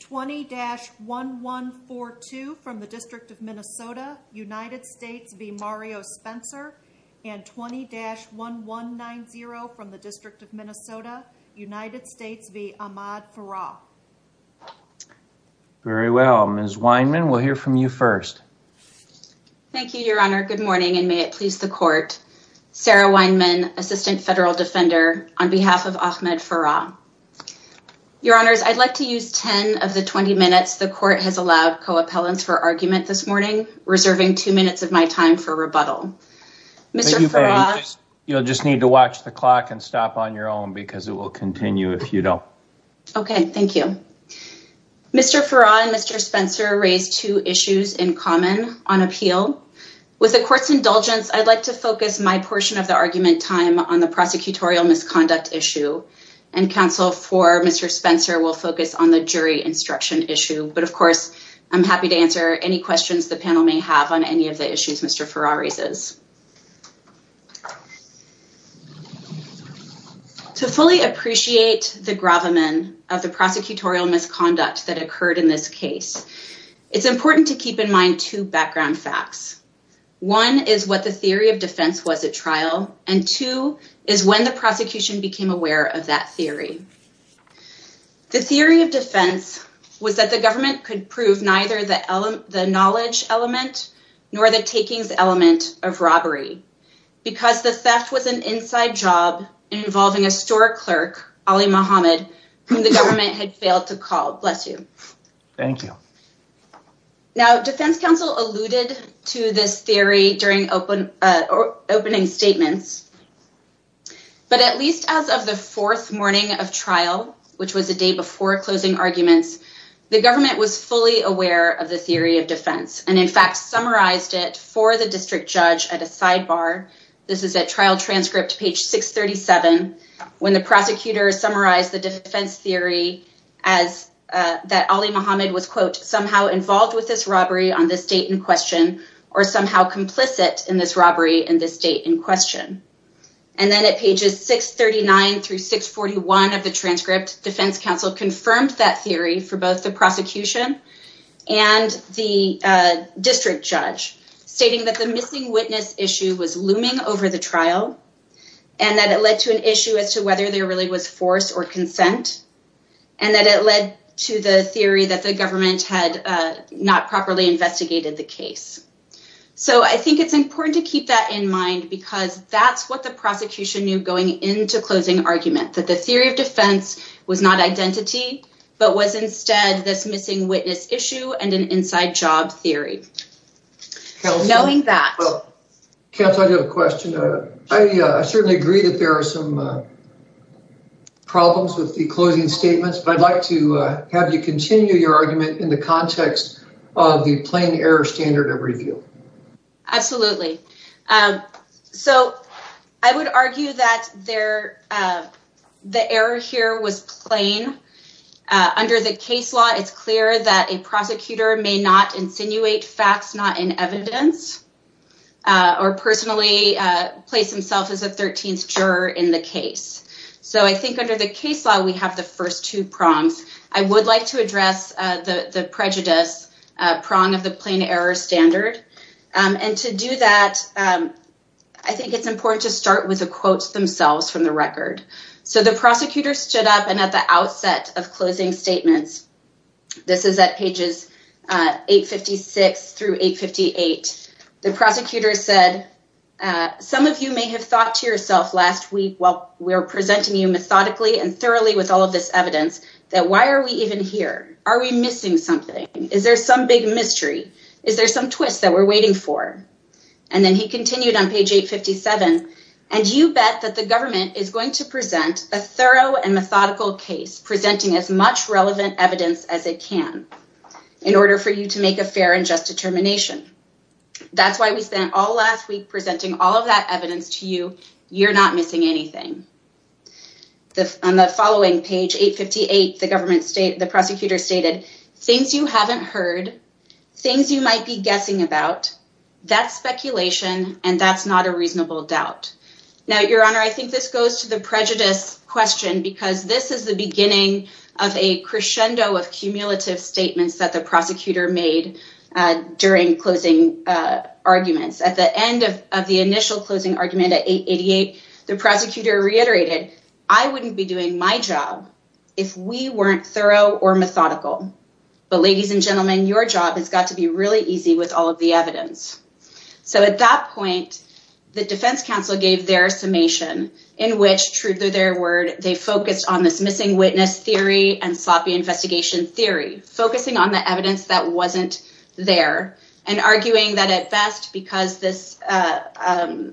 20-1142 from the District of Minnesota, United States v. Mario Spencer and 20-1190 from the District of Minnesota, United States v. Ahmad Farah. Very well. Ms. Weinman, we'll hear from you first. Thank you, your honor. Good morning and may it please the court. Sarah Weinman, Assistant Federal Defender on behalf of Ahmad Farah. Your honors, I'd like to use 10 of the 20 minutes the court has allowed co-appellants for argument this morning, reserving two minutes of my time for rebuttal. Mr. Farah, you'll just need to watch the clock and stop on your own because it will continue if you don't. Okay, thank you. Mr. Farah and Mr. Spencer raised two issues in common on appeal. With the court's indulgence, I'd like to focus my portion of the on the prosecutorial misconduct issue and counsel for Mr. Spencer will focus on the jury instruction issue. But of course, I'm happy to answer any questions the panel may have on any of the issues Mr. Farah raises. To fully appreciate the gravamen of the prosecutorial misconduct that occurred in this case, it's important to keep in mind two background facts. One is what the theory of is when the prosecution became aware of that theory. The theory of defense was that the government could prove neither the knowledge element nor the takings element of robbery because the theft was an inside job involving a store clerk, Ali Mohammed, whom the government had failed to call. Bless you. Thank you. Now, defense counsel alluded to this theory during the opening statements, but at least as of the fourth morning of trial, which was the day before closing arguments, the government was fully aware of the theory of defense and in fact summarized it for the district judge at a sidebar. This is a trial transcript, page 637, when the prosecutor summarized the defense theory as that Ali Mohammed was quote, somehow involved with this robbery on this date in question or somehow complicit in this robbery in this date in question. And then at pages 639 through 641 of the transcript, defense counsel confirmed that theory for both the prosecution and the district judge, stating that the missing witness issue was looming over the trial and that it led to an issue as to whether there really was force or consent and that it led to the theory that the government had not properly investigated the case. So I think it's important to keep that in mind because that's what the prosecution knew going into closing argument, that the theory of defense was not identity, but was instead this missing witness issue and an inside job theory. Knowing that. Counsel, I do have a question. I certainly agree that there are some problems with the closing statements, but I'd like to have you continue your argument in the context of the plain error standard of review. Absolutely. So I would argue that the error here was plain. Under the case law, it's clear that a prosecutor may not insinuate facts not in evidence or personally place himself as a 13th juror in the case. So I think under the case law, we have the first two prongs. I would like to address the prejudice prong of the plain error standard. And to do that, I think it's important to start with the quotes themselves from the record. So the prosecutor stood up and at the outset of closing statements, this is at pages 856 through 858, the prosecutor said, some of you may have thought to yourself last week while we were presenting you methodically and thoroughly with all of this evidence, that why are we even here? Are we missing something? Is there some big mystery? Is there some twist that we're waiting for? And then he continued on page 857, and you bet that the as it can in order for you to make a fair and just determination. That's why we spent all last week presenting all of that evidence to you. You're not missing anything. On the following page 858, the prosecutor stated, things you haven't heard, things you might be guessing about, that's speculation, and that's not a reasonable doubt. Now, your honor, I think this goes to the cumulative statements that the prosecutor made during closing arguments. At the end of the initial closing argument at 888, the prosecutor reiterated, I wouldn't be doing my job if we weren't thorough or methodical. But ladies and gentlemen, your job has got to be really easy with all of the evidence. So at that point, the defense counsel gave their summation in which, they focused on this missing witness theory and sloppy investigation theory, focusing on the evidence that wasn't there and arguing that at best, because this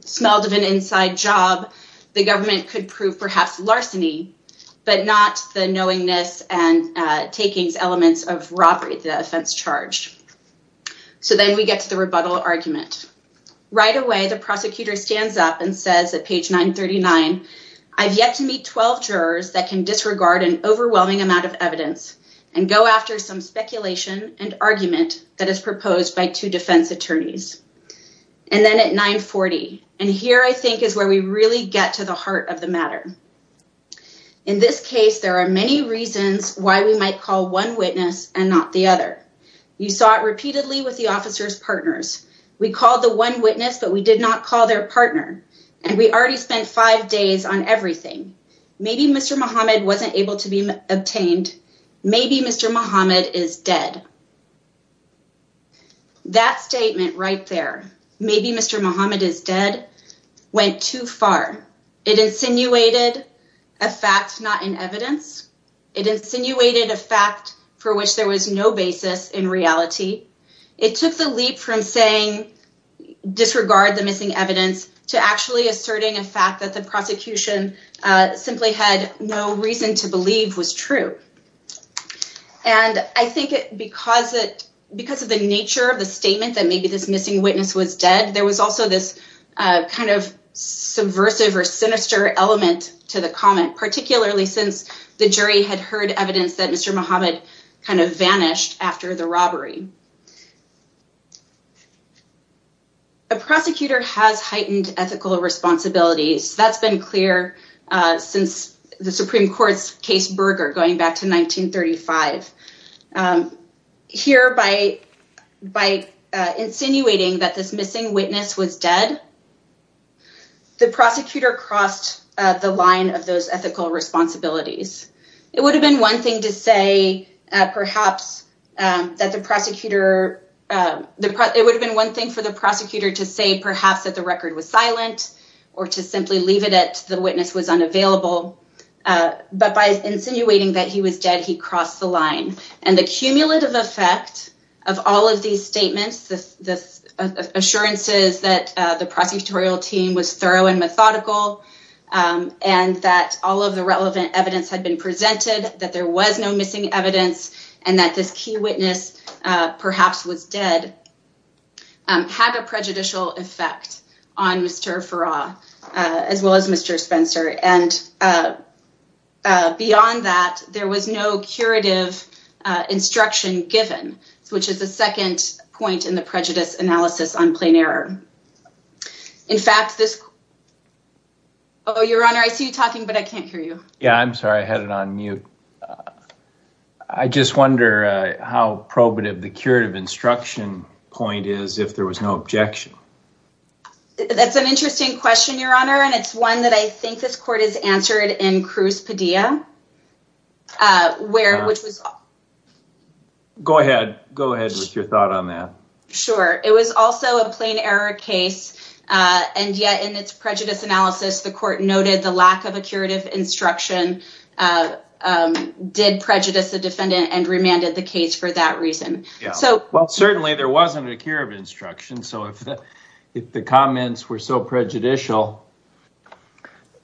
smelled of an inside job, the government could prove perhaps larceny, but not the knowingness and takings elements of robbery, the offense charged. So then we get to the rebuttal argument. Right away, the prosecutor stands up and says at page 939, I've yet to meet 12 jurors that can disregard an overwhelming amount of evidence and go after some speculation and argument that is proposed by two defense attorneys. And then at 940, and here I think is where we really get to the heart of the matter. In this case, there are many reasons why we might call one witness and the other. You saw it repeatedly with the officer's partners. We called the one witness, but we did not call their partner. And we already spent five days on everything. Maybe Mr. Muhammad wasn't able to be obtained. Maybe Mr. Muhammad is dead. That statement right there, maybe Mr. Muhammad is dead, went too far. It insinuated a fact not in reality. It took the leap from saying disregard the missing evidence to actually asserting a fact that the prosecution simply had no reason to believe was true. And I think because of the nature of the statement that maybe this missing witness was dead, there was also this subversive or sinister element to the comment, particularly since the jury had heard evidence that Mr. Muhammad kind of vanished after the robbery. A prosecutor has heightened ethical responsibilities. That's been clear since the Supreme Court's case Berger, going back to 1935. Here, by insinuating that this missing witness was dead, the prosecutor crossed the line of those ethical responsibilities. It would have been one thing to say perhaps that the prosecutor, it would have been one thing for the prosecutor to say perhaps that the record was silent or to simply leave it at the witness was unavailable. But by insinuating that he was dead, he crossed the line. And the cumulative effect of all of these statements, the assurances that the prosecutorial team was thorough and methodical, and that all of the relevant evidence had been presented, that there was no missing evidence, and that this key witness perhaps was dead, had a prejudicial effect on Mr. Farah, as well as Mr. Spencer. And beyond that, there was no curative instruction given, which is the second point in the prejudice analysis on plain error. In fact, this... Oh, Your Honor, I see you talking, but I can't hear you. Yeah, I'm sorry. I had it on mute. I just wonder how probative the curative instruction point is if there was no objection. That's an interesting question, Your Honor. And it's one that I think this court has answered in Cruz Padilla, where, which was... Go ahead. Go ahead with your thought on that. Sure. It was also a plain error case. And yet, in its prejudice analysis, the court noted the lack of a curative instruction, did prejudice the defendant, and remanded the case for that reason. Well, certainly, there wasn't a cure of instruction. So, if the comments were so prejudicial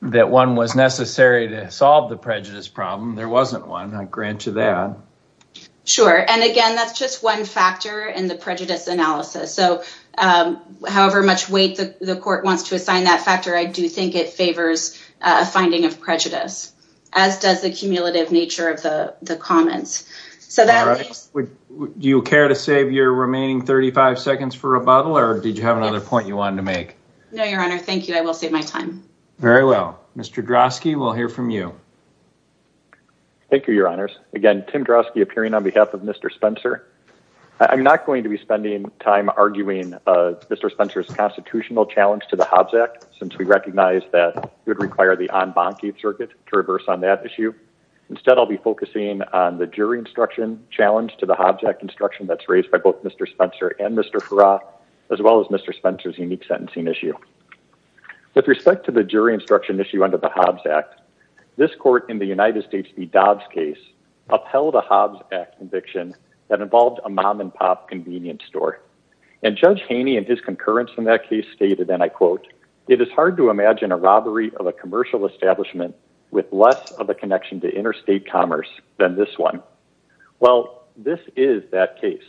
that one was necessary to solve the prejudice problem, there wasn't one, I grant you that. Sure. And again, that's just one factor in the prejudice analysis. So, however much weight the court wants to assign that factor, I do think it favors a finding of prejudice, as does the cumulative nature of the comments. Do you care to save your remaining 35 seconds for rebuttal, or did you have another point you wanted to make? No, Your Honor. Thank you. I will save my time. Very well. Mr. Drosky, we'll hear from you. Thank you, Your Honors. Again, Tim Drosky appearing on behalf of Mr. Spencer. I'm not going to be spending time arguing Mr. Spencer's constitutional challenge to the Hobbs Act, since we recognize that it would require the en banquier circuit to reverse on that issue. Instead, I'll be focusing on the jury instruction challenge to the Hobbs Act instruction that's raised by both Mr. Spencer and Mr. Farrar, as well as Mr. Spencer's unique sentencing issue. With respect to the jury instruction issue under the Hobbs Act, this court in the United States v. Dobbs case upheld a Hobbs Act conviction that involved a mom and pop convenience store. And Judge Haney and his concurrence in that case stated, and I quote, it is hard to imagine a robbery of a commercial establishment with less of a connection to interstate commerce than this one. Well, this is that case.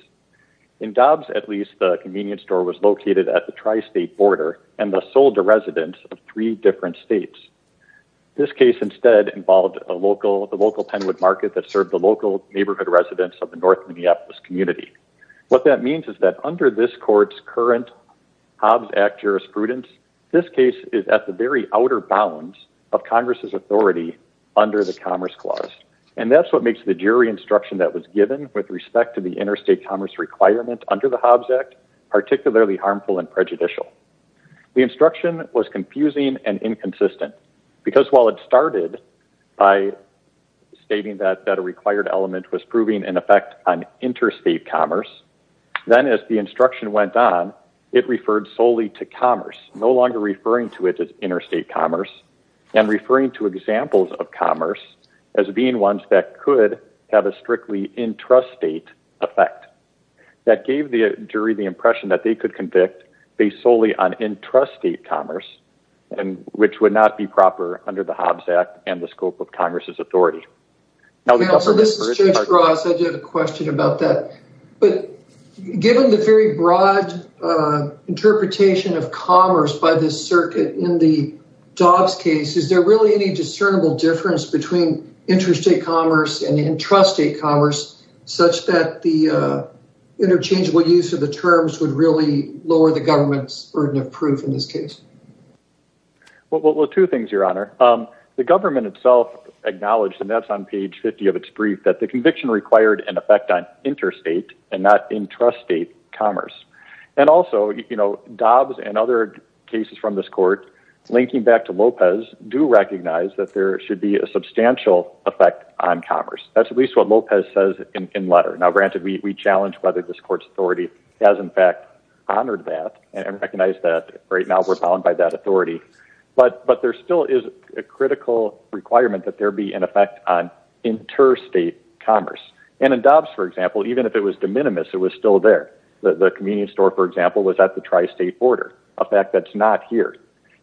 In Dobbs, at least, the convenience store was located at the tri-state border and thus sold to residents of three different states. This case, instead, involved a local, the local Penwood market that served the local neighborhood residents of the North Minneapolis community. What that means is that under this court's current Hobbs Act jurisprudence, this case is at the very outer bounds of Congress's authority under the Commerce Clause. And that's what makes the jury instruction that was given with respect to the interstate commerce requirement under the Hobbs Act, particularly harmful and prejudicial. The instruction was confusing and inconsistent. Because while it started by stating that a required element was proving an effect on interstate commerce, then as the instruction went on, it referred solely to commerce, no longer referring to it as interstate commerce, and referring to examples of commerce as being ones that could have a intrastate effect. That gave the jury the impression that they could convict based solely on intrastate commerce, which would not be proper under the Hobbs Act and the scope of Congress's authority. This is Judge Ross. I do have a question about that. But given the very broad interpretation of commerce by this circuit in the Dobbs case, is there really any discernible difference between interstate commerce and intrastate commerce such that the interchangeable use of the terms would really lower the government's burden of proof in this case? Well, two things, Your Honor. The government itself acknowledged, and that's on page 50 of its brief, that the conviction required an effect on interstate and not intrastate commerce. And also, you know, Dobbs and other cases from this court linking back to Lopez do recognize that there should be a substantial effect on commerce. That's at least what Lopez says in letter. Now, granted, we challenge whether this court's authority has, in fact, honored that and recognized that right now we're bound by that authority. But there still is a critical requirement that there be an effect on interstate commerce. And in Dobbs, for example, even if it was de minimis, it was still there. The convenience store, for example, was at the tri-state border, a fact that's not here.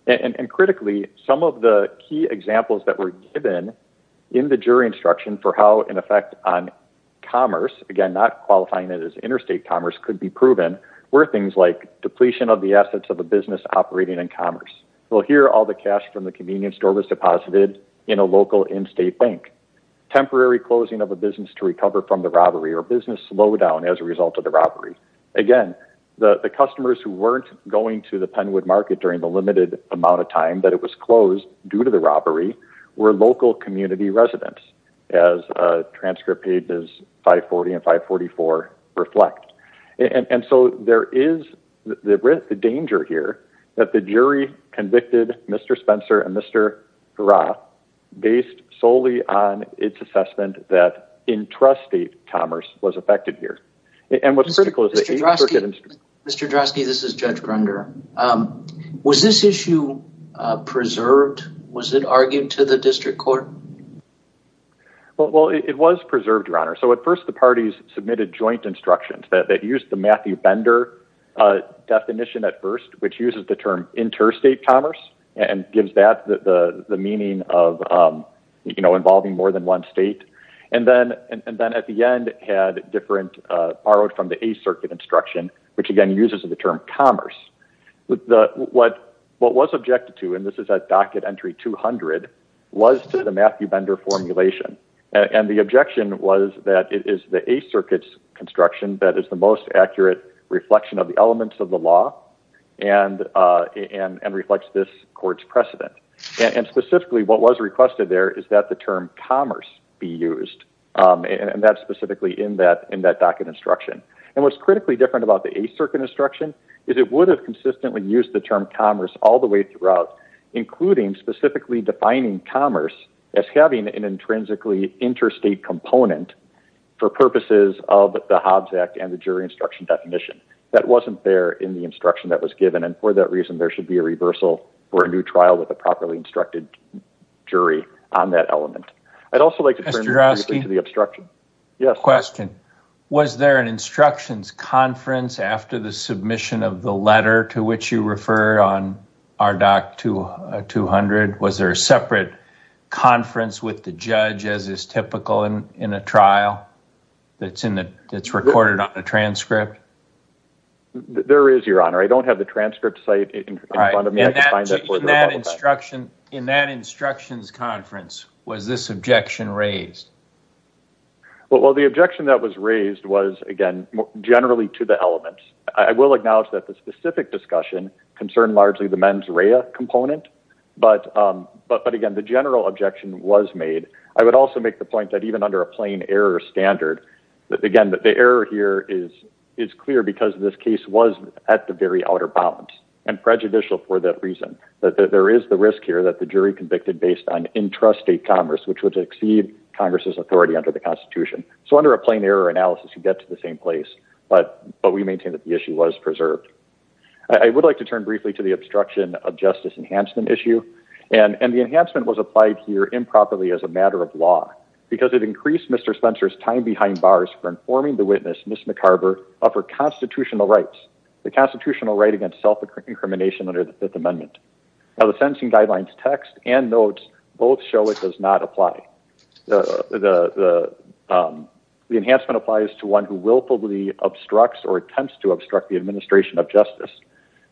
And critically, some of the key examples that were given in the jury instruction for how an effect on commerce, again, not qualifying it as interstate commerce, could be proven were things like depletion of the assets of a business operating in commerce. Well, here, all the cash from the convenience store was deposited in a local in-state bank. Temporary closing of a business to recover from the robbery or business slowdown as a result of the robbery. Again, the customers who weren't going to the Penwood market during the limited amount of time that it was closed due to the robbery were local community residents, as transcript pages 540 and 544 reflect. And so there is the danger here that the jury convicted Mr. Spencer and Mr. Hurrah based solely on its assessment that intrastate commerce was affected here. And what's critical is that... Mr. Drosky, this is Judge Grunder. Was this issue preserved? Was it argued to the district court? Well, it was preserved, Your Honor. So at first, the parties submitted joint instructions that used the Matthew Bender definition at first, which uses the term interstate commerce and gives that the meaning of involving more than one state. And then at the end, it had different borrowed from the A Circuit instruction, which again, uses the term commerce. What was objected to, and this is at docket entry 200, was to the Matthew Bender formulation. And the objection was that it is the A Circuit's construction that is the most accurate reflection of the and specifically what was requested there is that the term commerce be used. And that's specifically in that docket instruction. And what's critically different about the A Circuit instruction is it would have consistently used the term commerce all the way throughout, including specifically defining commerce as having an intrinsically interstate component for purposes of the Hobbs Act and the jury instruction definition. That wasn't there in the instruction that was given. And for that reason, there should be a reversal for a new trial with a properly instructed jury on that element. I'd also like to turn to the obstruction. Question. Was there an instructions conference after the submission of the letter to which you refer on RDoC 200? Was there a separate conference with the judge as is typical in a trial that's recorded on a transcript? There is, Your Honor. I don't have the transcript in front of me. In that instructions conference, was this objection raised? Well, the objection that was raised was, again, generally to the elements. I will acknowledge that the specific discussion concerned largely the mens rea component. But again, the general objection was made. I would also make the point that even under a plain error standard, again, the error here is clear because this case was at the very outer bounds and prejudicial for that reason. There is the risk here that the jury convicted based on intrastate commerce, which would exceed Congress's authority under the Constitution. So under a plain error analysis, you get to the same place. But we maintain that the issue was preserved. I would like to turn briefly to the obstruction of justice enhancement issue. And the enhancement was applied here improperly as a matter of law because it increased Mr. Spencer's time behind bars for informing the witness, Ms. McCarver, of her constitutional rights, the constitutional right against self-incrimination under the Fifth Amendment. Now the sentencing guidelines text and notes both show it does not apply. The enhancement applies to one who willfully obstructs or attempts to obstruct the administration of justice.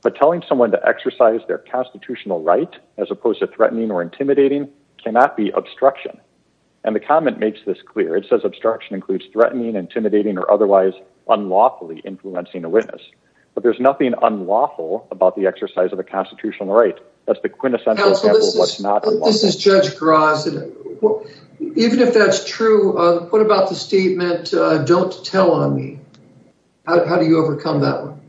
But telling someone to exercise their constitutional right as opposed to threatening or intimidating cannot be obstruction. And the comment makes this clear. It says obstruction includes threatening, intimidating, or otherwise unlawfully influencing a witness. But there's nothing unlawful about the exercise of a constitutional right. That's the quintessential example of what's not unlawful. This is Judge Grosz. Even if that's true, what about the statement, don't tell on me? How do you overcome that one?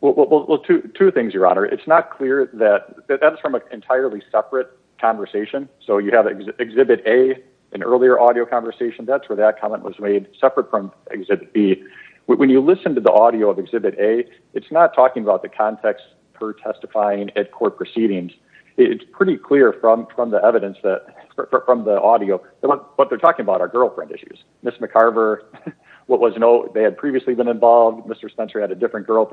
Well, two things, Your Honor. It's not clear that that's from an entirely separate conversation. So you have Exhibit A, an earlier audio conversation, that's where that comment was made, separate from Exhibit B. When you listen to the audio of Exhibit A, it's not talking about the context for testifying at court proceedings. It's pretty clear from the evidence that, from the audio, what they're talking about are girlfriend issues. Ms. McCarver, what was noted, they had previously been involved. Mr. Spencer had a different to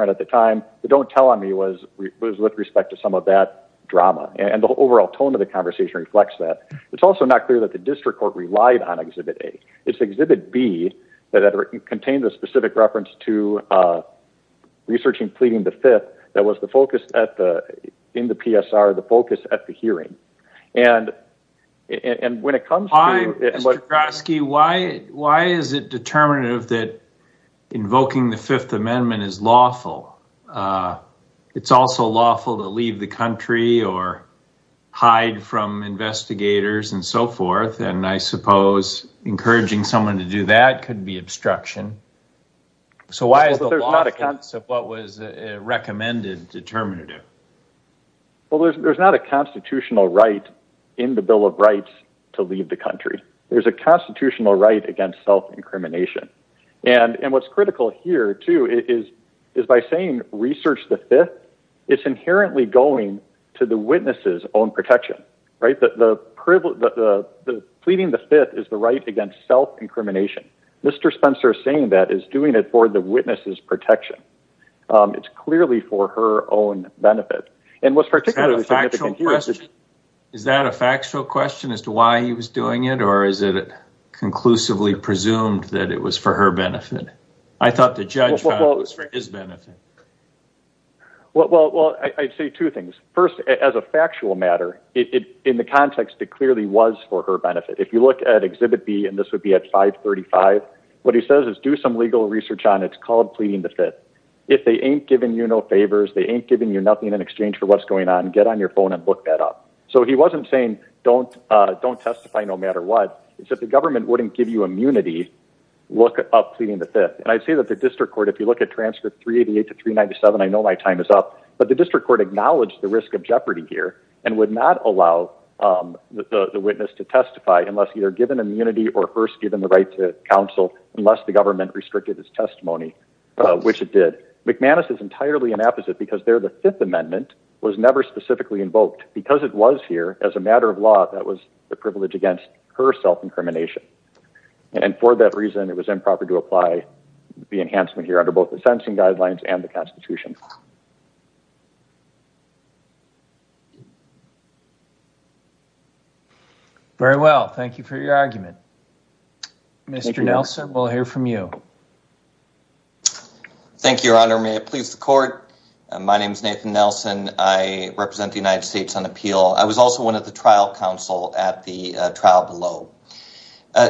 some of that drama. And the overall tone of the conversation reflects that. It's also not clear that the district court relied on Exhibit A. It's Exhibit B that contained a specific reference to researching pleading the Fifth that was the focus in the PSR, the focus at the hearing. And when it comes to... Mr. Groszky, why is it determinative that or hide from investigators and so forth? And I suppose encouraging someone to do that could be obstruction. So why is there not a concept of what was recommended determinative? Well, there's not a constitutional right in the Bill of Rights to leave the country. There's a constitutional right against self-incrimination. And what's critical here, is by saying research the Fifth, it's inherently going to the witness's own protection. Pleading the Fifth is the right against self-incrimination. Mr. Spencer saying that is doing it for the witness's protection. It's clearly for her own benefit. Is that a factual question as to why he was doing it? Or is it conclusively presumed that it was her benefit? I thought the judge was for his benefit. Well, I'd say two things. First, as a factual matter, in the context, it clearly was for her benefit. If you look at Exhibit B, and this would be at 535, what he says is do some legal research on it. It's called Pleading the Fifth. If they ain't giving you no favors, they ain't giving you nothing in exchange for what's going on, get on your phone and look that up. So he wasn't saying don't testify no matter what. If the government wouldn't give you immunity, look up Pleading the Fifth. And I'd say that the district court, if you look at transcript 388 to 397, I know my time is up, but the district court acknowledged the risk of jeopardy here and would not allow the witness to testify unless either given immunity or first given the right to counsel, unless the government restricted his testimony, which it did. McManus is entirely an opposite because there the Fifth Amendment was never specifically invoked. Because it was here as a matter of law, that was the privilege against her self-incrimination. And for that reason, it was improper to apply the enhancement here under both the sentencing guidelines and the Constitution. Very well. Thank you for your argument. Mr. Nelson, we'll hear from you. Thank you, Your Honor. May it please the court. My name is Nathan Nelson. I represent the United States on appeal. I was also one of the trial counsel at the trial below.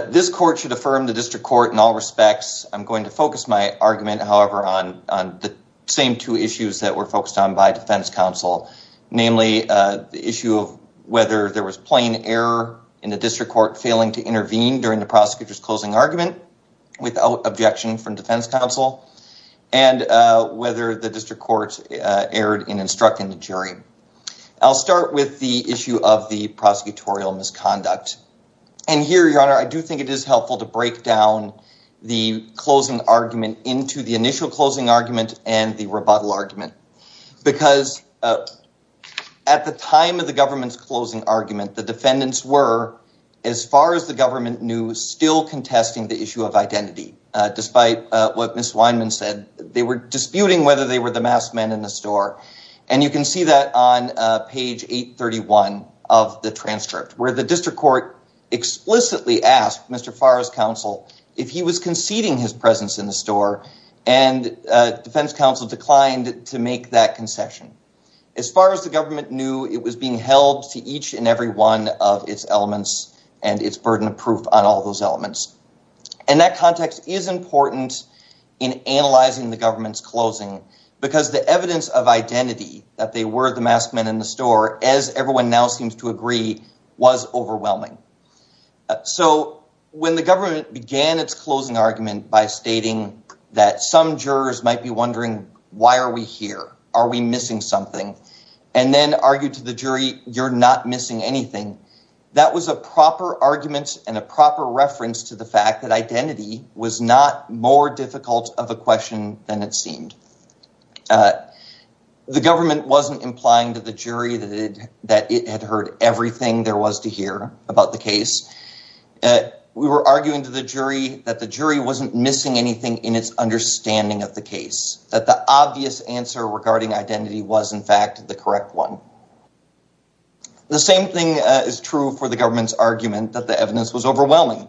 This court should affirm the district court in all respects. I'm going to focus my argument, however, on the same two issues that were focused on by defense counsel, namely the issue of whether there was plain error in the district court failing to intervene during the prosecutor's closing argument without objection from defense counsel and whether the district court erred in instructing the jury. I'll start with the issue of the prosecutorial misconduct. And here, Your Honor, I do think it is helpful to break down the closing argument into the initial closing argument and the rebuttal argument. Because at the time of the government's closing argument, the defendants were, as far as the government knew, still contesting the issue of identity. Despite what Ms. Weinman said, they were disputing whether they were the masked men in the store. And you can see that on page 831 of the transcript, where the district court explicitly asked Mr. Farr's counsel if he was conceding his presence in the store, and defense counsel declined to make that concession. As far as the government knew, it was being held to each and its burden of proof on all those elements. And that context is important in analyzing the government's closing, because the evidence of identity that they were the masked men in the store, as everyone now seems to agree, was overwhelming. So when the government began its closing argument by stating that some jurors might be wondering, why are we here? Are we missing something? And then argued to the jury, you're not missing anything. That was a proper argument and a proper reference to the fact that identity was not more difficult of a question than it seemed. The government wasn't implying to the jury that it had heard everything there was to hear about the case. We were arguing to the jury that the jury wasn't missing anything in its understanding of the case. That the obvious answer regarding identity was in fact the correct one. The same thing is true for the government's argument that the evidence was overwhelming.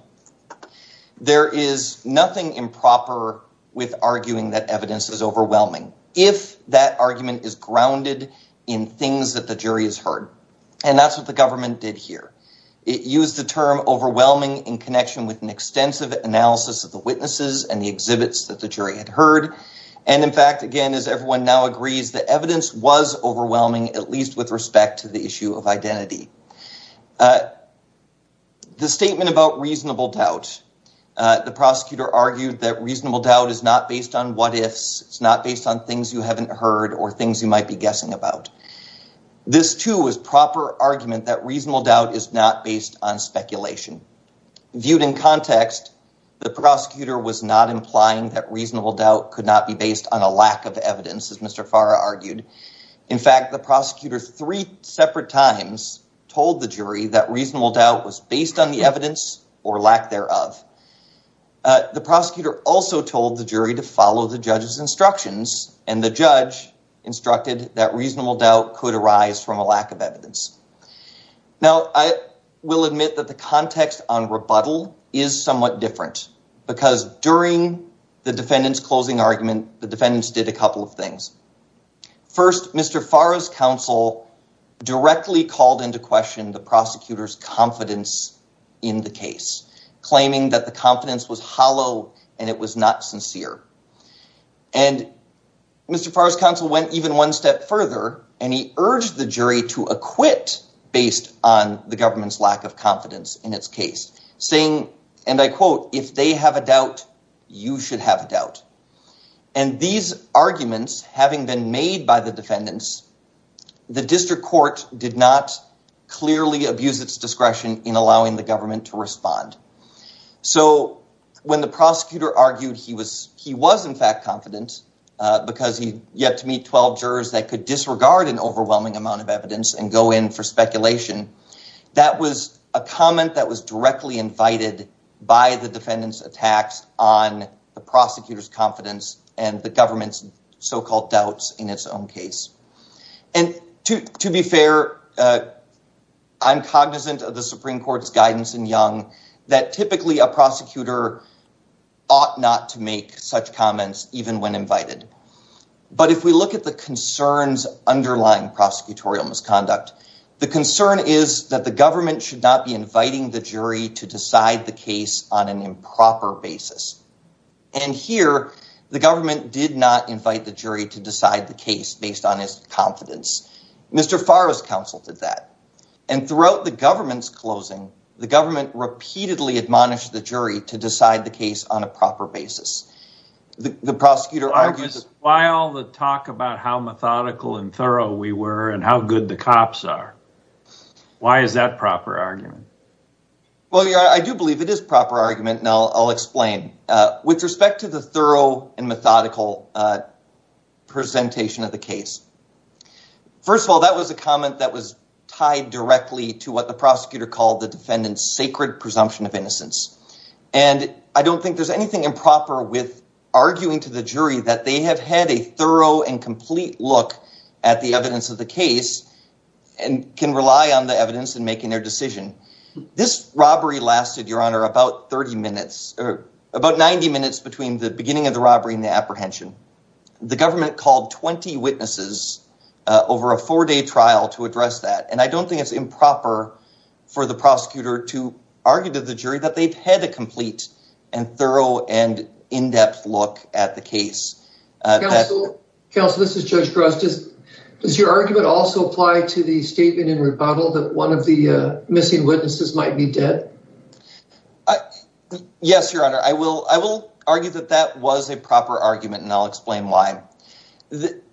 There is nothing improper with arguing that evidence is overwhelming, if that argument is grounded in things that the jury has heard. And that's what the government did here. It used the term overwhelming in connection with an extensive analysis of the witnesses and the exhibits that jury had heard. And in fact, again, as everyone now agrees, the evidence was overwhelming, at least with respect to the issue of identity. The statement about reasonable doubt. The prosecutor argued that reasonable doubt is not based on what ifs. It's not based on things you haven't heard or things you might be guessing about. This too is proper argument that reasonable doubt is not based on could not be based on a lack of evidence, as Mr. Farah argued. In fact, the prosecutor three separate times told the jury that reasonable doubt was based on the evidence or lack thereof. The prosecutor also told the jury to follow the judge's instructions, and the judge instructed that reasonable doubt could arise from a lack of evidence. Now, I will admit that the context on closing argument, the defendants did a couple of things. First, Mr. Farah's counsel directly called into question the prosecutor's confidence in the case, claiming that the confidence was hollow and it was not sincere. And Mr. Farah's counsel went even one step further, and he urged the jury to acquit based on the government's lack of confidence in its case, saying, and I quote, if they have a doubt, you should have a doubt. And these arguments having been made by the defendants, the district court did not clearly abuse its discretion in allowing the government to respond. So when the prosecutor argued he was in fact confident because he had yet to meet 12 jurors that could disregard an overwhelming amount of evidence and go in for speculation, that was a comment that was directly invited by the defendant's attacks on the prosecutor's confidence and the government's so-called doubts in its own case. And to be fair, I'm cognizant of the Supreme Court's guidance in Young that typically a prosecutor ought not to make such comments even when invited. But if we look at the concerns underlying prosecutorial misconduct, the concern is that the government should not be inviting the jury to decide the case on an improper basis. And here the government did not invite the jury to decide the case based on his confidence. Mr. Farah's counsel did that. And throughout the government's closing, the government repeatedly admonished the jury to decide the case on a proper basis. The prosecutor argued... Why all the talk about how methodical and thorough we were and how good the cops are? Why is that a proper argument? Well, I do believe it is a proper argument and I'll explain. With respect to the thorough and methodical presentation of the case, first of all, that was a comment that was tied directly to what the prosecutor called the arguing to the jury that they have had a thorough and complete look at the evidence of the case and can rely on the evidence in making their decision. This robbery lasted, Your Honor, about 30 minutes or about 90 minutes between the beginning of the robbery and the apprehension. The government called 20 witnesses over a four-day trial to address that. And I don't think it's improper for the prosecutor to argue to the jury that they've had a complete and thorough and in-depth look at the case. Counsel, this is Judge Gross. Does your argument also apply to the statement in rebuttal that one of the missing witnesses might be dead? Yes, Your Honor. I will argue that that was a proper argument and I'll explain why. I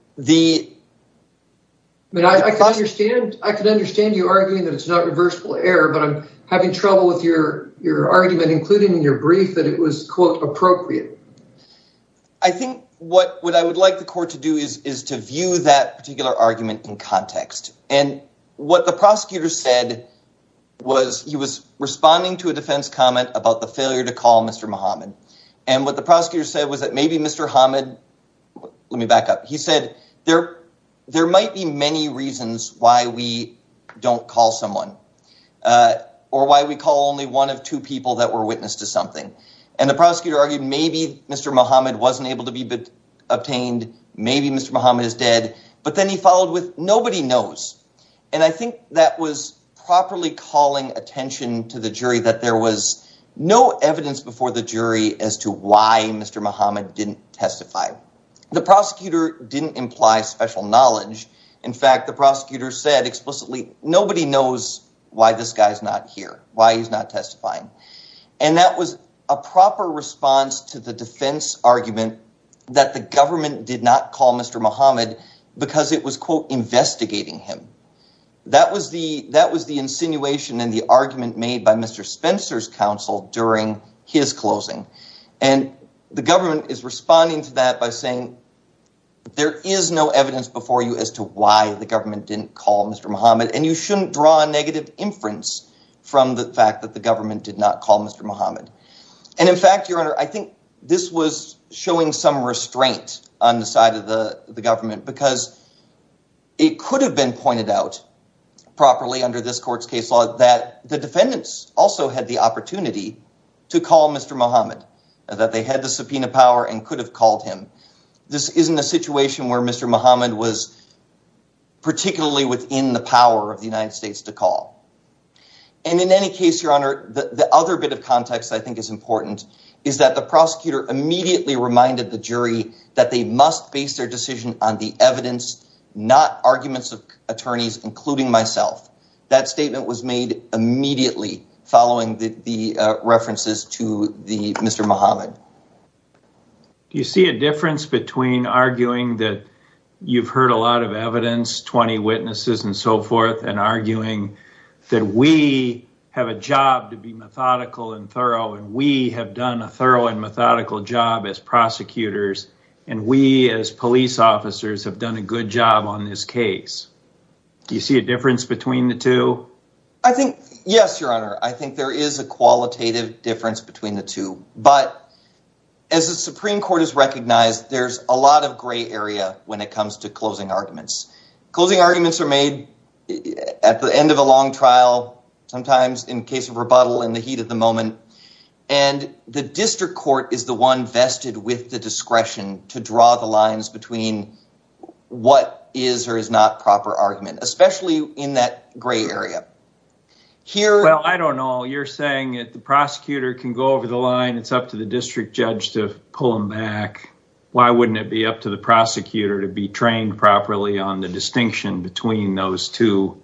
can understand you arguing that it's not reversible error, but I'm having trouble with your argument, including in your brief, that it was, quote, appropriate. I think what I would like the court to do is to view that particular argument in context. And what the prosecutor said was he was responding to a defense comment about the failure to call Mr. Muhammad. And what the prosecutor said was that maybe Mr. Muhammad, let me back up. He said there might be many reasons why we don't call someone or why we call only one of two people that were witness to something. And the prosecutor argued maybe Mr. Muhammad wasn't able to be obtained. Maybe Mr. Muhammad is dead. But then he followed with nobody knows. And I think that was properly calling attention to the jury that there was no evidence before the jury as to why Mr. Muhammad didn't testify. The prosecutor didn't imply special knowledge. In fact, the prosecutor said explicitly nobody knows why this guy is not here, why he's not testifying. And that was a proper response to the defense argument that the government did not call Mr. Muhammad because it was, quote, investigating him. That was the that was the insinuation and the argument made by Mr. Spencer's counsel during his closing. And the government is responding to that by saying there is no evidence before you as to why the government didn't call Mr. Muhammad. And you shouldn't draw a negative inference from the fact that the government did not call Mr. Muhammad. And in fact, your honor, I think this was showing some restraint on the side of the government because it could have been pointed out properly under this court's case law that the defendants also had the opportunity to call Mr. Muhammad, that they had the subpoena power and could have called him. This isn't a situation where Mr. Muhammad was particularly within the power of the United States to call. And in any case, your honor, the other bit of context I think is important is that the prosecutor immediately reminded the jury that they must base their decision on the evidence, not arguments of attorneys, including myself. That statement was made immediately following the references to the Mr. Muhammad. Do you see a difference between arguing that you've heard a lot of evidence, 20 witnesses and so forth, and arguing that we have a job to be methodical and thorough and we have done a thorough and methodical job as prosecutors and we as police officers have done a good job on this case? Do you see a difference between the two? I think, yes, your honor. I think there is a qualitative difference between the two, but as the Supreme Court has recognized, there's a lot of gray area when it comes to closing arguments. Closing arguments are made at the end of a long trial, sometimes in case of rebuttal in the heat of the moment, and the district court is the one vested with the discretion to draw the lines between what is or is not proper argument, especially in that gray area. Well, I don't know, you're saying that the prosecutor can go over the line, it's up to the district judge to pull them back. Why wouldn't it be up to the prosecutor to be trained properly on the distinction between those two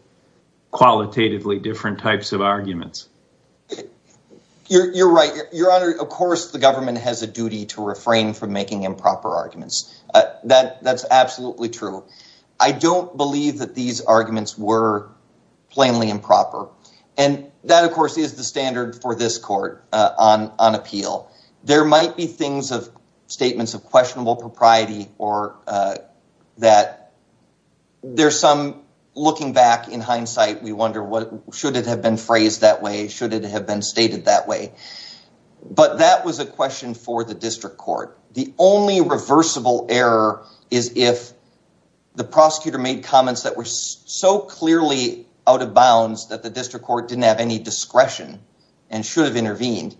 qualitatively different types of arguments? You're right, your honor. Of course, the government has a duty to refrain from making improper arguments. That's absolutely true. I don't believe that these arguments were plainly improper. And that, of course, is the standard for this court on appeal. There might be things of statements of questionable propriety or that there's some looking back in hindsight, we wonder should it have been phrased that way? Should it have been stated that way? But that was a question for the district court. The only reversible error is if the prosecutor made comments that were so clearly out of bounds that the district court didn't have any discretion and should have intervened.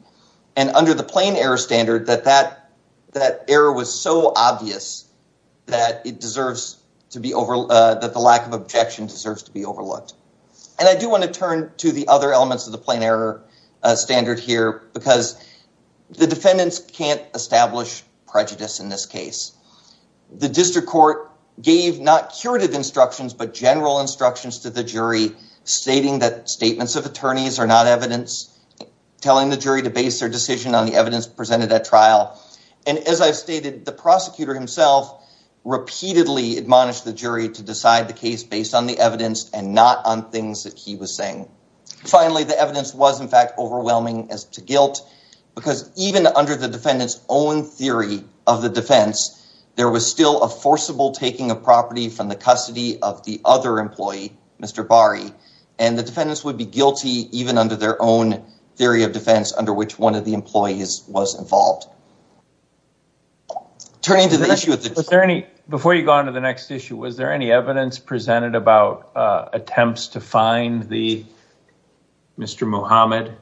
And under the plain error standard that that error was so obvious that it deserves to be over, that the lack of objection deserves to be overlooked. And I do want to turn to the other elements of the plain error standard here, because the general instructions to the jury stating that statements of attorneys are not evidence, telling the jury to base their decision on the evidence presented at trial. And as I've stated, the prosecutor himself repeatedly admonished the jury to decide the case based on the evidence and not on things that he was saying. Finally, the evidence was, in fact, overwhelming as to guilt, because even under the defendant's own theory of the defense, there was still a forcible taking of property from the custody of the other employee, Mr. Bari. And the defendants would be guilty even under their own theory of defense under which one of the employees was involved. Before you go on to the next issue, was there any evidence presented about attempts to find Mr. Muhammad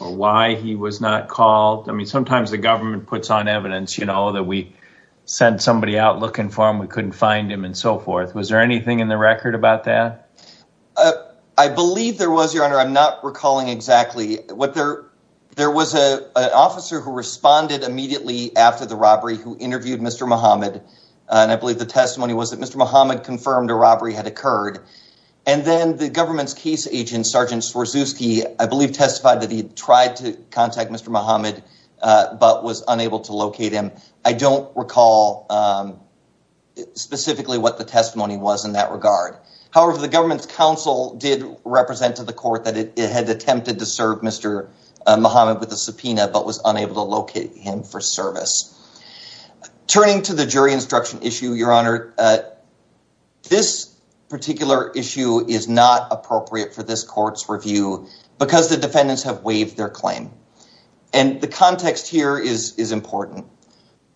or why he was not called? I mean, sometimes the government puts on evidence, that we sent somebody out looking for him, we couldn't find him and so forth. Was there anything in the record about that? I believe there was, Your Honor. I'm not recalling exactly. There was an officer who responded immediately after the robbery who interviewed Mr. Muhammad. And I believe the testimony was that Mr. Muhammad confirmed a robbery had occurred. And then the government's case agent, Sergeant Swarzewski, I believe testified that he tried to I don't recall specifically what the testimony was in that regard. However, the government's counsel did represent to the court that it had attempted to serve Mr. Muhammad with a subpoena, but was unable to locate him for service. Turning to the jury instruction issue, Your Honor, this particular issue is not appropriate for this court's review, because the defendants have waived their claim. And the context here is important.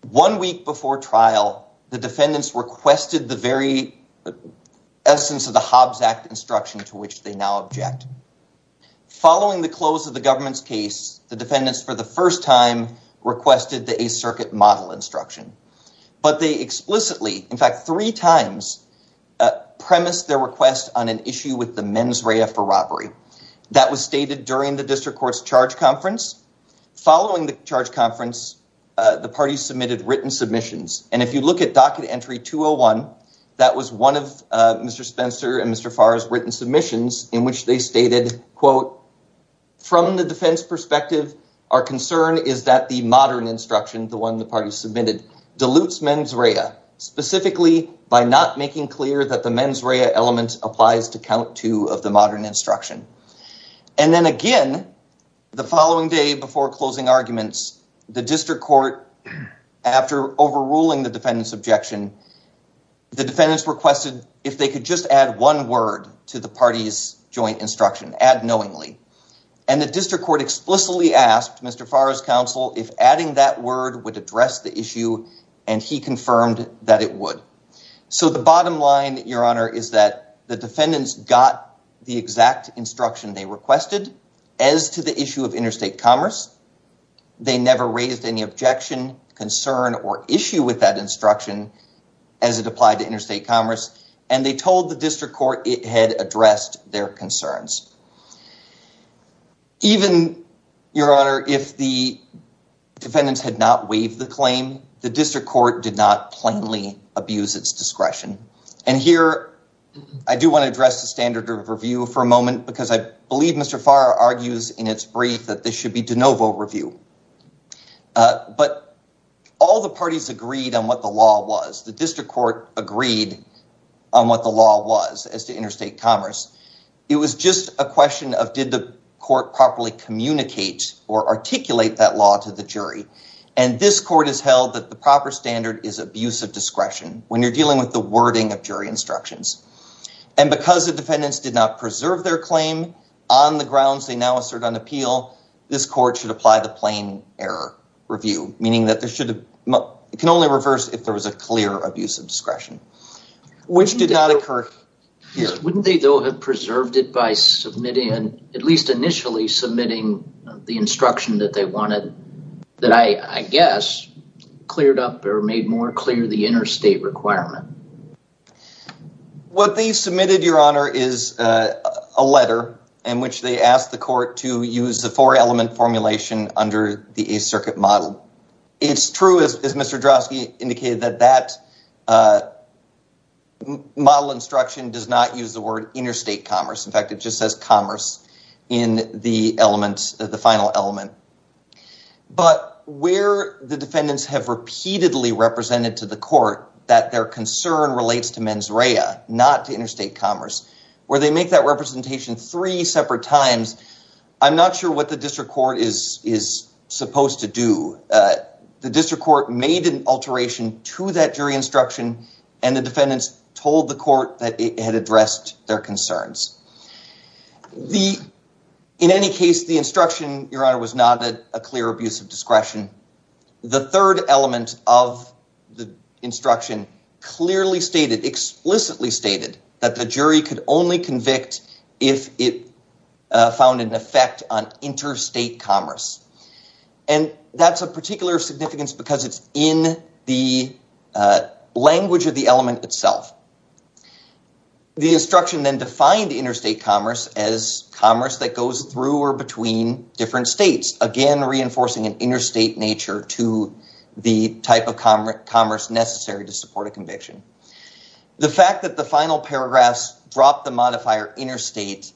One week before trial, the defendants requested the very essence of the Hobbs Act instruction to which they now object. Following the close of the government's case, the defendants for the first time requested the Eighth Circuit model instruction. But they explicitly, in fact, three times premised their request on an issue with the mens rea for robbery. That was stated during the district court's charge conference. Following the charge conference, the party submitted written submissions. And if you look at docket entry 201, that was one of Mr. Spencer and Mr. Farr's written submissions in which they stated, quote, from the defense perspective, our concern is that the modern instruction, the one the party submitted, dilutes mens rea, specifically by not making clear that the mens rea element applies to count two of the modern instruction. And then again, the following day before closing arguments, the district court, after overruling the defendant's objection, the defendants requested if they could just add one word to the party's joint instruction, add knowingly. And the district court explicitly asked Mr. Farr's counsel if adding that word would address the issue, and he confirmed that it would. So the bottom line, Your Honor, is that the defendants got the exact instruction they requested as to the issue of interstate commerce. They never raised any objection, concern, or issue with that instruction as it applied to interstate commerce, and they told the district court it had addressed their concerns. Even, Your Honor, if the defendants had not waived the claim, the district court did not plainly abuse its discretion. And here, I do want to address the standard of review for a moment, because I believe Mr. Farr argues in its brief that this should be de novo review. But all the parties agreed on what the law was. The district court agreed on what the law was as to interstate commerce. It was just a question of did the court properly communicate or articulate that law to the jury. And this court has held that the proper standard is abuse of discretion when you're dealing with the wording of jury instructions. And because the defendants did not preserve their claim on the grounds they now assert on appeal, this court should apply the plain error review, meaning that it can only reverse if there was a clear abuse of discretion, which did not occur here. Wouldn't they, though, have preserved it by submitting, at least initially, submitting the instruction that they wanted, that I guess cleared up or made more clear the interstate requirement? What they submitted, Your Honor, is a letter in which they asked the court to use the four-element formulation under the Eighth Circuit model. It's true, as Mr. Drozdowski indicated, that that model instruction does not use the word interstate commerce. In fact, it just says commerce in the element, the final element. But where the defendants have repeatedly represented to the court that their concern relates to mens rea, not to interstate commerce, where they make that representation three separate times, I'm not sure what the district court is supposed to do. The district court made an alteration to that jury instruction, and the defendants told the court that it had addressed their concerns. In any case, the instruction, Your Honor, was not a clear abuse of discretion. The third element of the instruction clearly stated, explicitly stated, that the jury could only convict if it found an effect on interstate commerce. And that's of particular significance because it's in the language of the element itself. The instruction then defined interstate commerce as commerce that goes through or between different states, again, reinforcing an interstate nature to the type of commerce necessary to support a conviction. The fact that the final paragraphs dropped the modifier interstate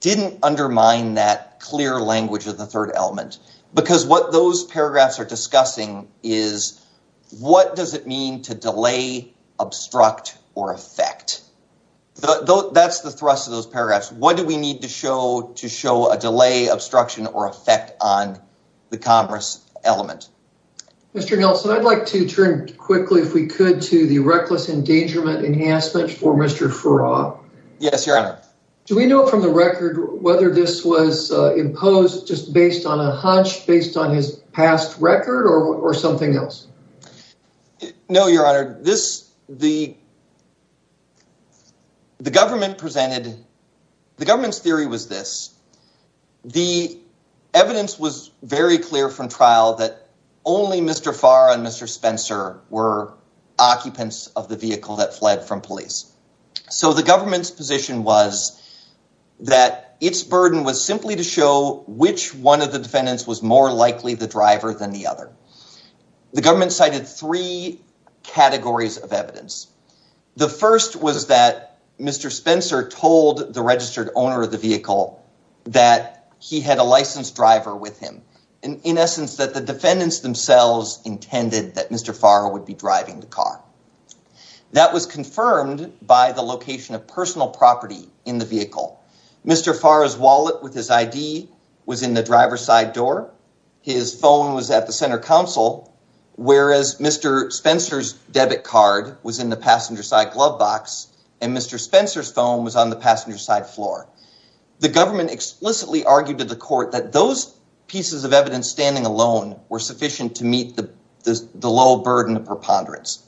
didn't undermine that clear language of the third element. Because what those paragraphs are discussing is, what does it mean to delay, obstruct, or affect? That's the thrust of those paragraphs. What do we need to show to show a delay, obstruction, or effect on the commerce element? Mr. Nelson, I'd like to turn quickly, if we could, to the reckless endangerment enhancement for Mr. Farrar. Yes, Your Honor. Do we know from the record whether this was imposed just based on a hunch, based on his past record, or something else? No, Your Honor. The government's theory was this. The evidence was very clear from trial that only Mr. Farrar and Mr. Spencer were occupants of the vehicle that fled from police. The government's position was that its burden was simply to show which one of the defendants was more likely the driver than the other. The government cited three categories of evidence. The first was that Mr. Spencer told the registered owner of the vehicle that he had a licensed driver with him. In essence, that the defendants themselves intended that Mr. Farrar would be driving the car. That was confirmed by the location of personal property in the vehicle. Mr. Farrar's wallet with his ID was in the driver's side door. His phone was at the center council, whereas Mr. Spencer's debit card was in the passenger side glove box, and Mr. Spencer's phone was on the passenger side floor. The government explicitly argued to the court that those pieces of evidence standing alone were sufficient to meet the low burden of preponderance.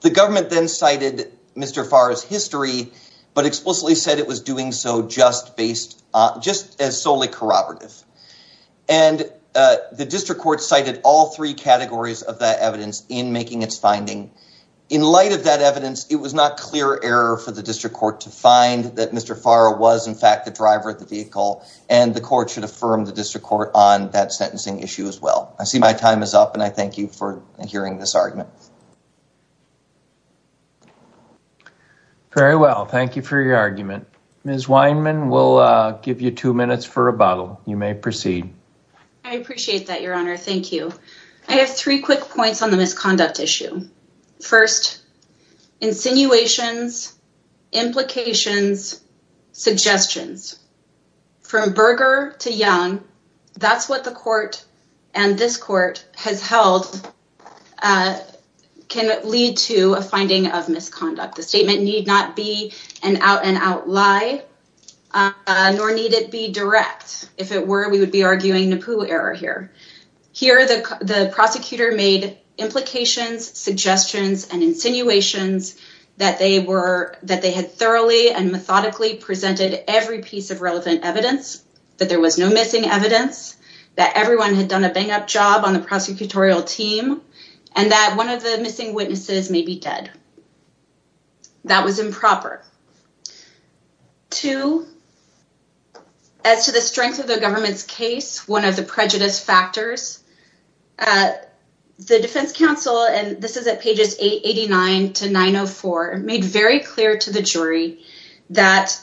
The government then cited Mr. Farrar's history, but explicitly said it was doing so just as solely corroborative. The district court cited all three categories of that evidence in making its finding. In light of that evidence, it was not clear error for the district court to find that Mr. Farrar was in the vehicle, and the court should affirm the district court on that sentencing issue as well. I see my time is up, and I thank you for hearing this argument. Very well. Thank you for your argument. Ms. Weinman, we'll give you two minutes for rebuttal. You may proceed. I appreciate that, Your Honor. Thank you. I have three quick points on the from Berger to Young. That's what the court and this court has held can lead to a finding of misconduct. The statement need not be an out-and-out lie, nor need it be direct. If it were, we would be arguing NAPU error here. Here, the prosecutor made implications, suggestions, and insinuations that they had thoroughly and methodically presented every piece of relevant evidence, that there was no missing evidence, that everyone had done a bang-up job on the prosecutorial team, and that one of the missing witnesses may be dead. That was improper. Two, as to the strength of the government's case, one of the prejudice factors, the defense counsel, and this is at pages 889 to 904, made very clear to the jury that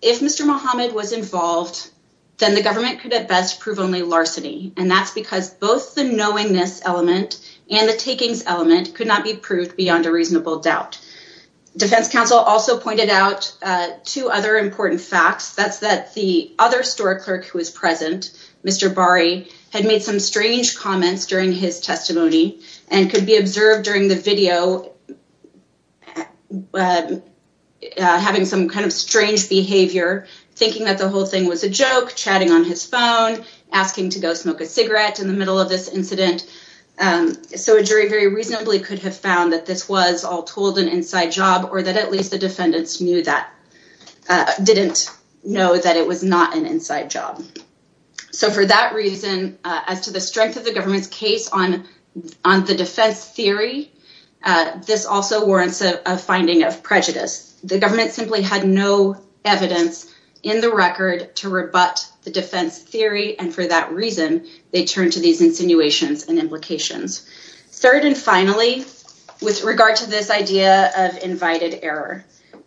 if Mr. Mohammed was involved, then the government could at best prove only larceny, and that's because both the knowingness element and the takings element could not be proved beyond a reasonable doubt. Defense counsel also pointed out two other important facts. That's that the other store clerk who was present, Mr. Bari, had made some strange comments during his testimony and could be observed during the video having some kind of strange behavior, thinking that the whole thing was a joke, chatting on his phone, asking to go smoke a cigarette in the middle of this incident. So a jury very reasonably could have found that this was all told an inside job, or that at least the defendants knew that, didn't know that it was not an inside job. So for that reason, as to the strength of the government's case on the defense theory, this also warrants a finding of prejudice. The government simply had no evidence in the record to rebut the defense theory, and for that reason, they turned to these insinuations and implications. Third and finally, with regard to this idea of invited error,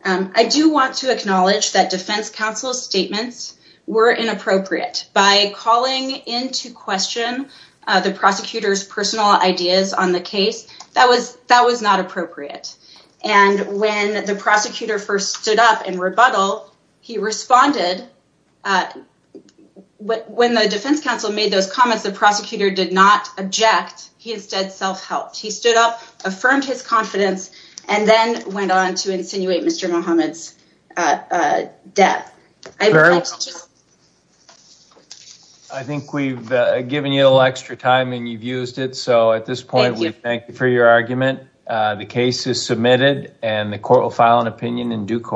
I do want to acknowledge that defense counsel's statements were inappropriate. By calling into question the prosecutor's personal ideas on the case, that was not appropriate. And when the prosecutor first stood up in rebuttal, he responded. When the defense counsel made those comments, the prosecutor did not object. He instead self-helped. He stood up, affirmed his confidence, and then went on to insinuate Mr. Muhammad's death. I think we've given you a little extra time, and you've used it. So at this point, we thank you for your argument. The case is submitted, and the court will file an opinion in due course.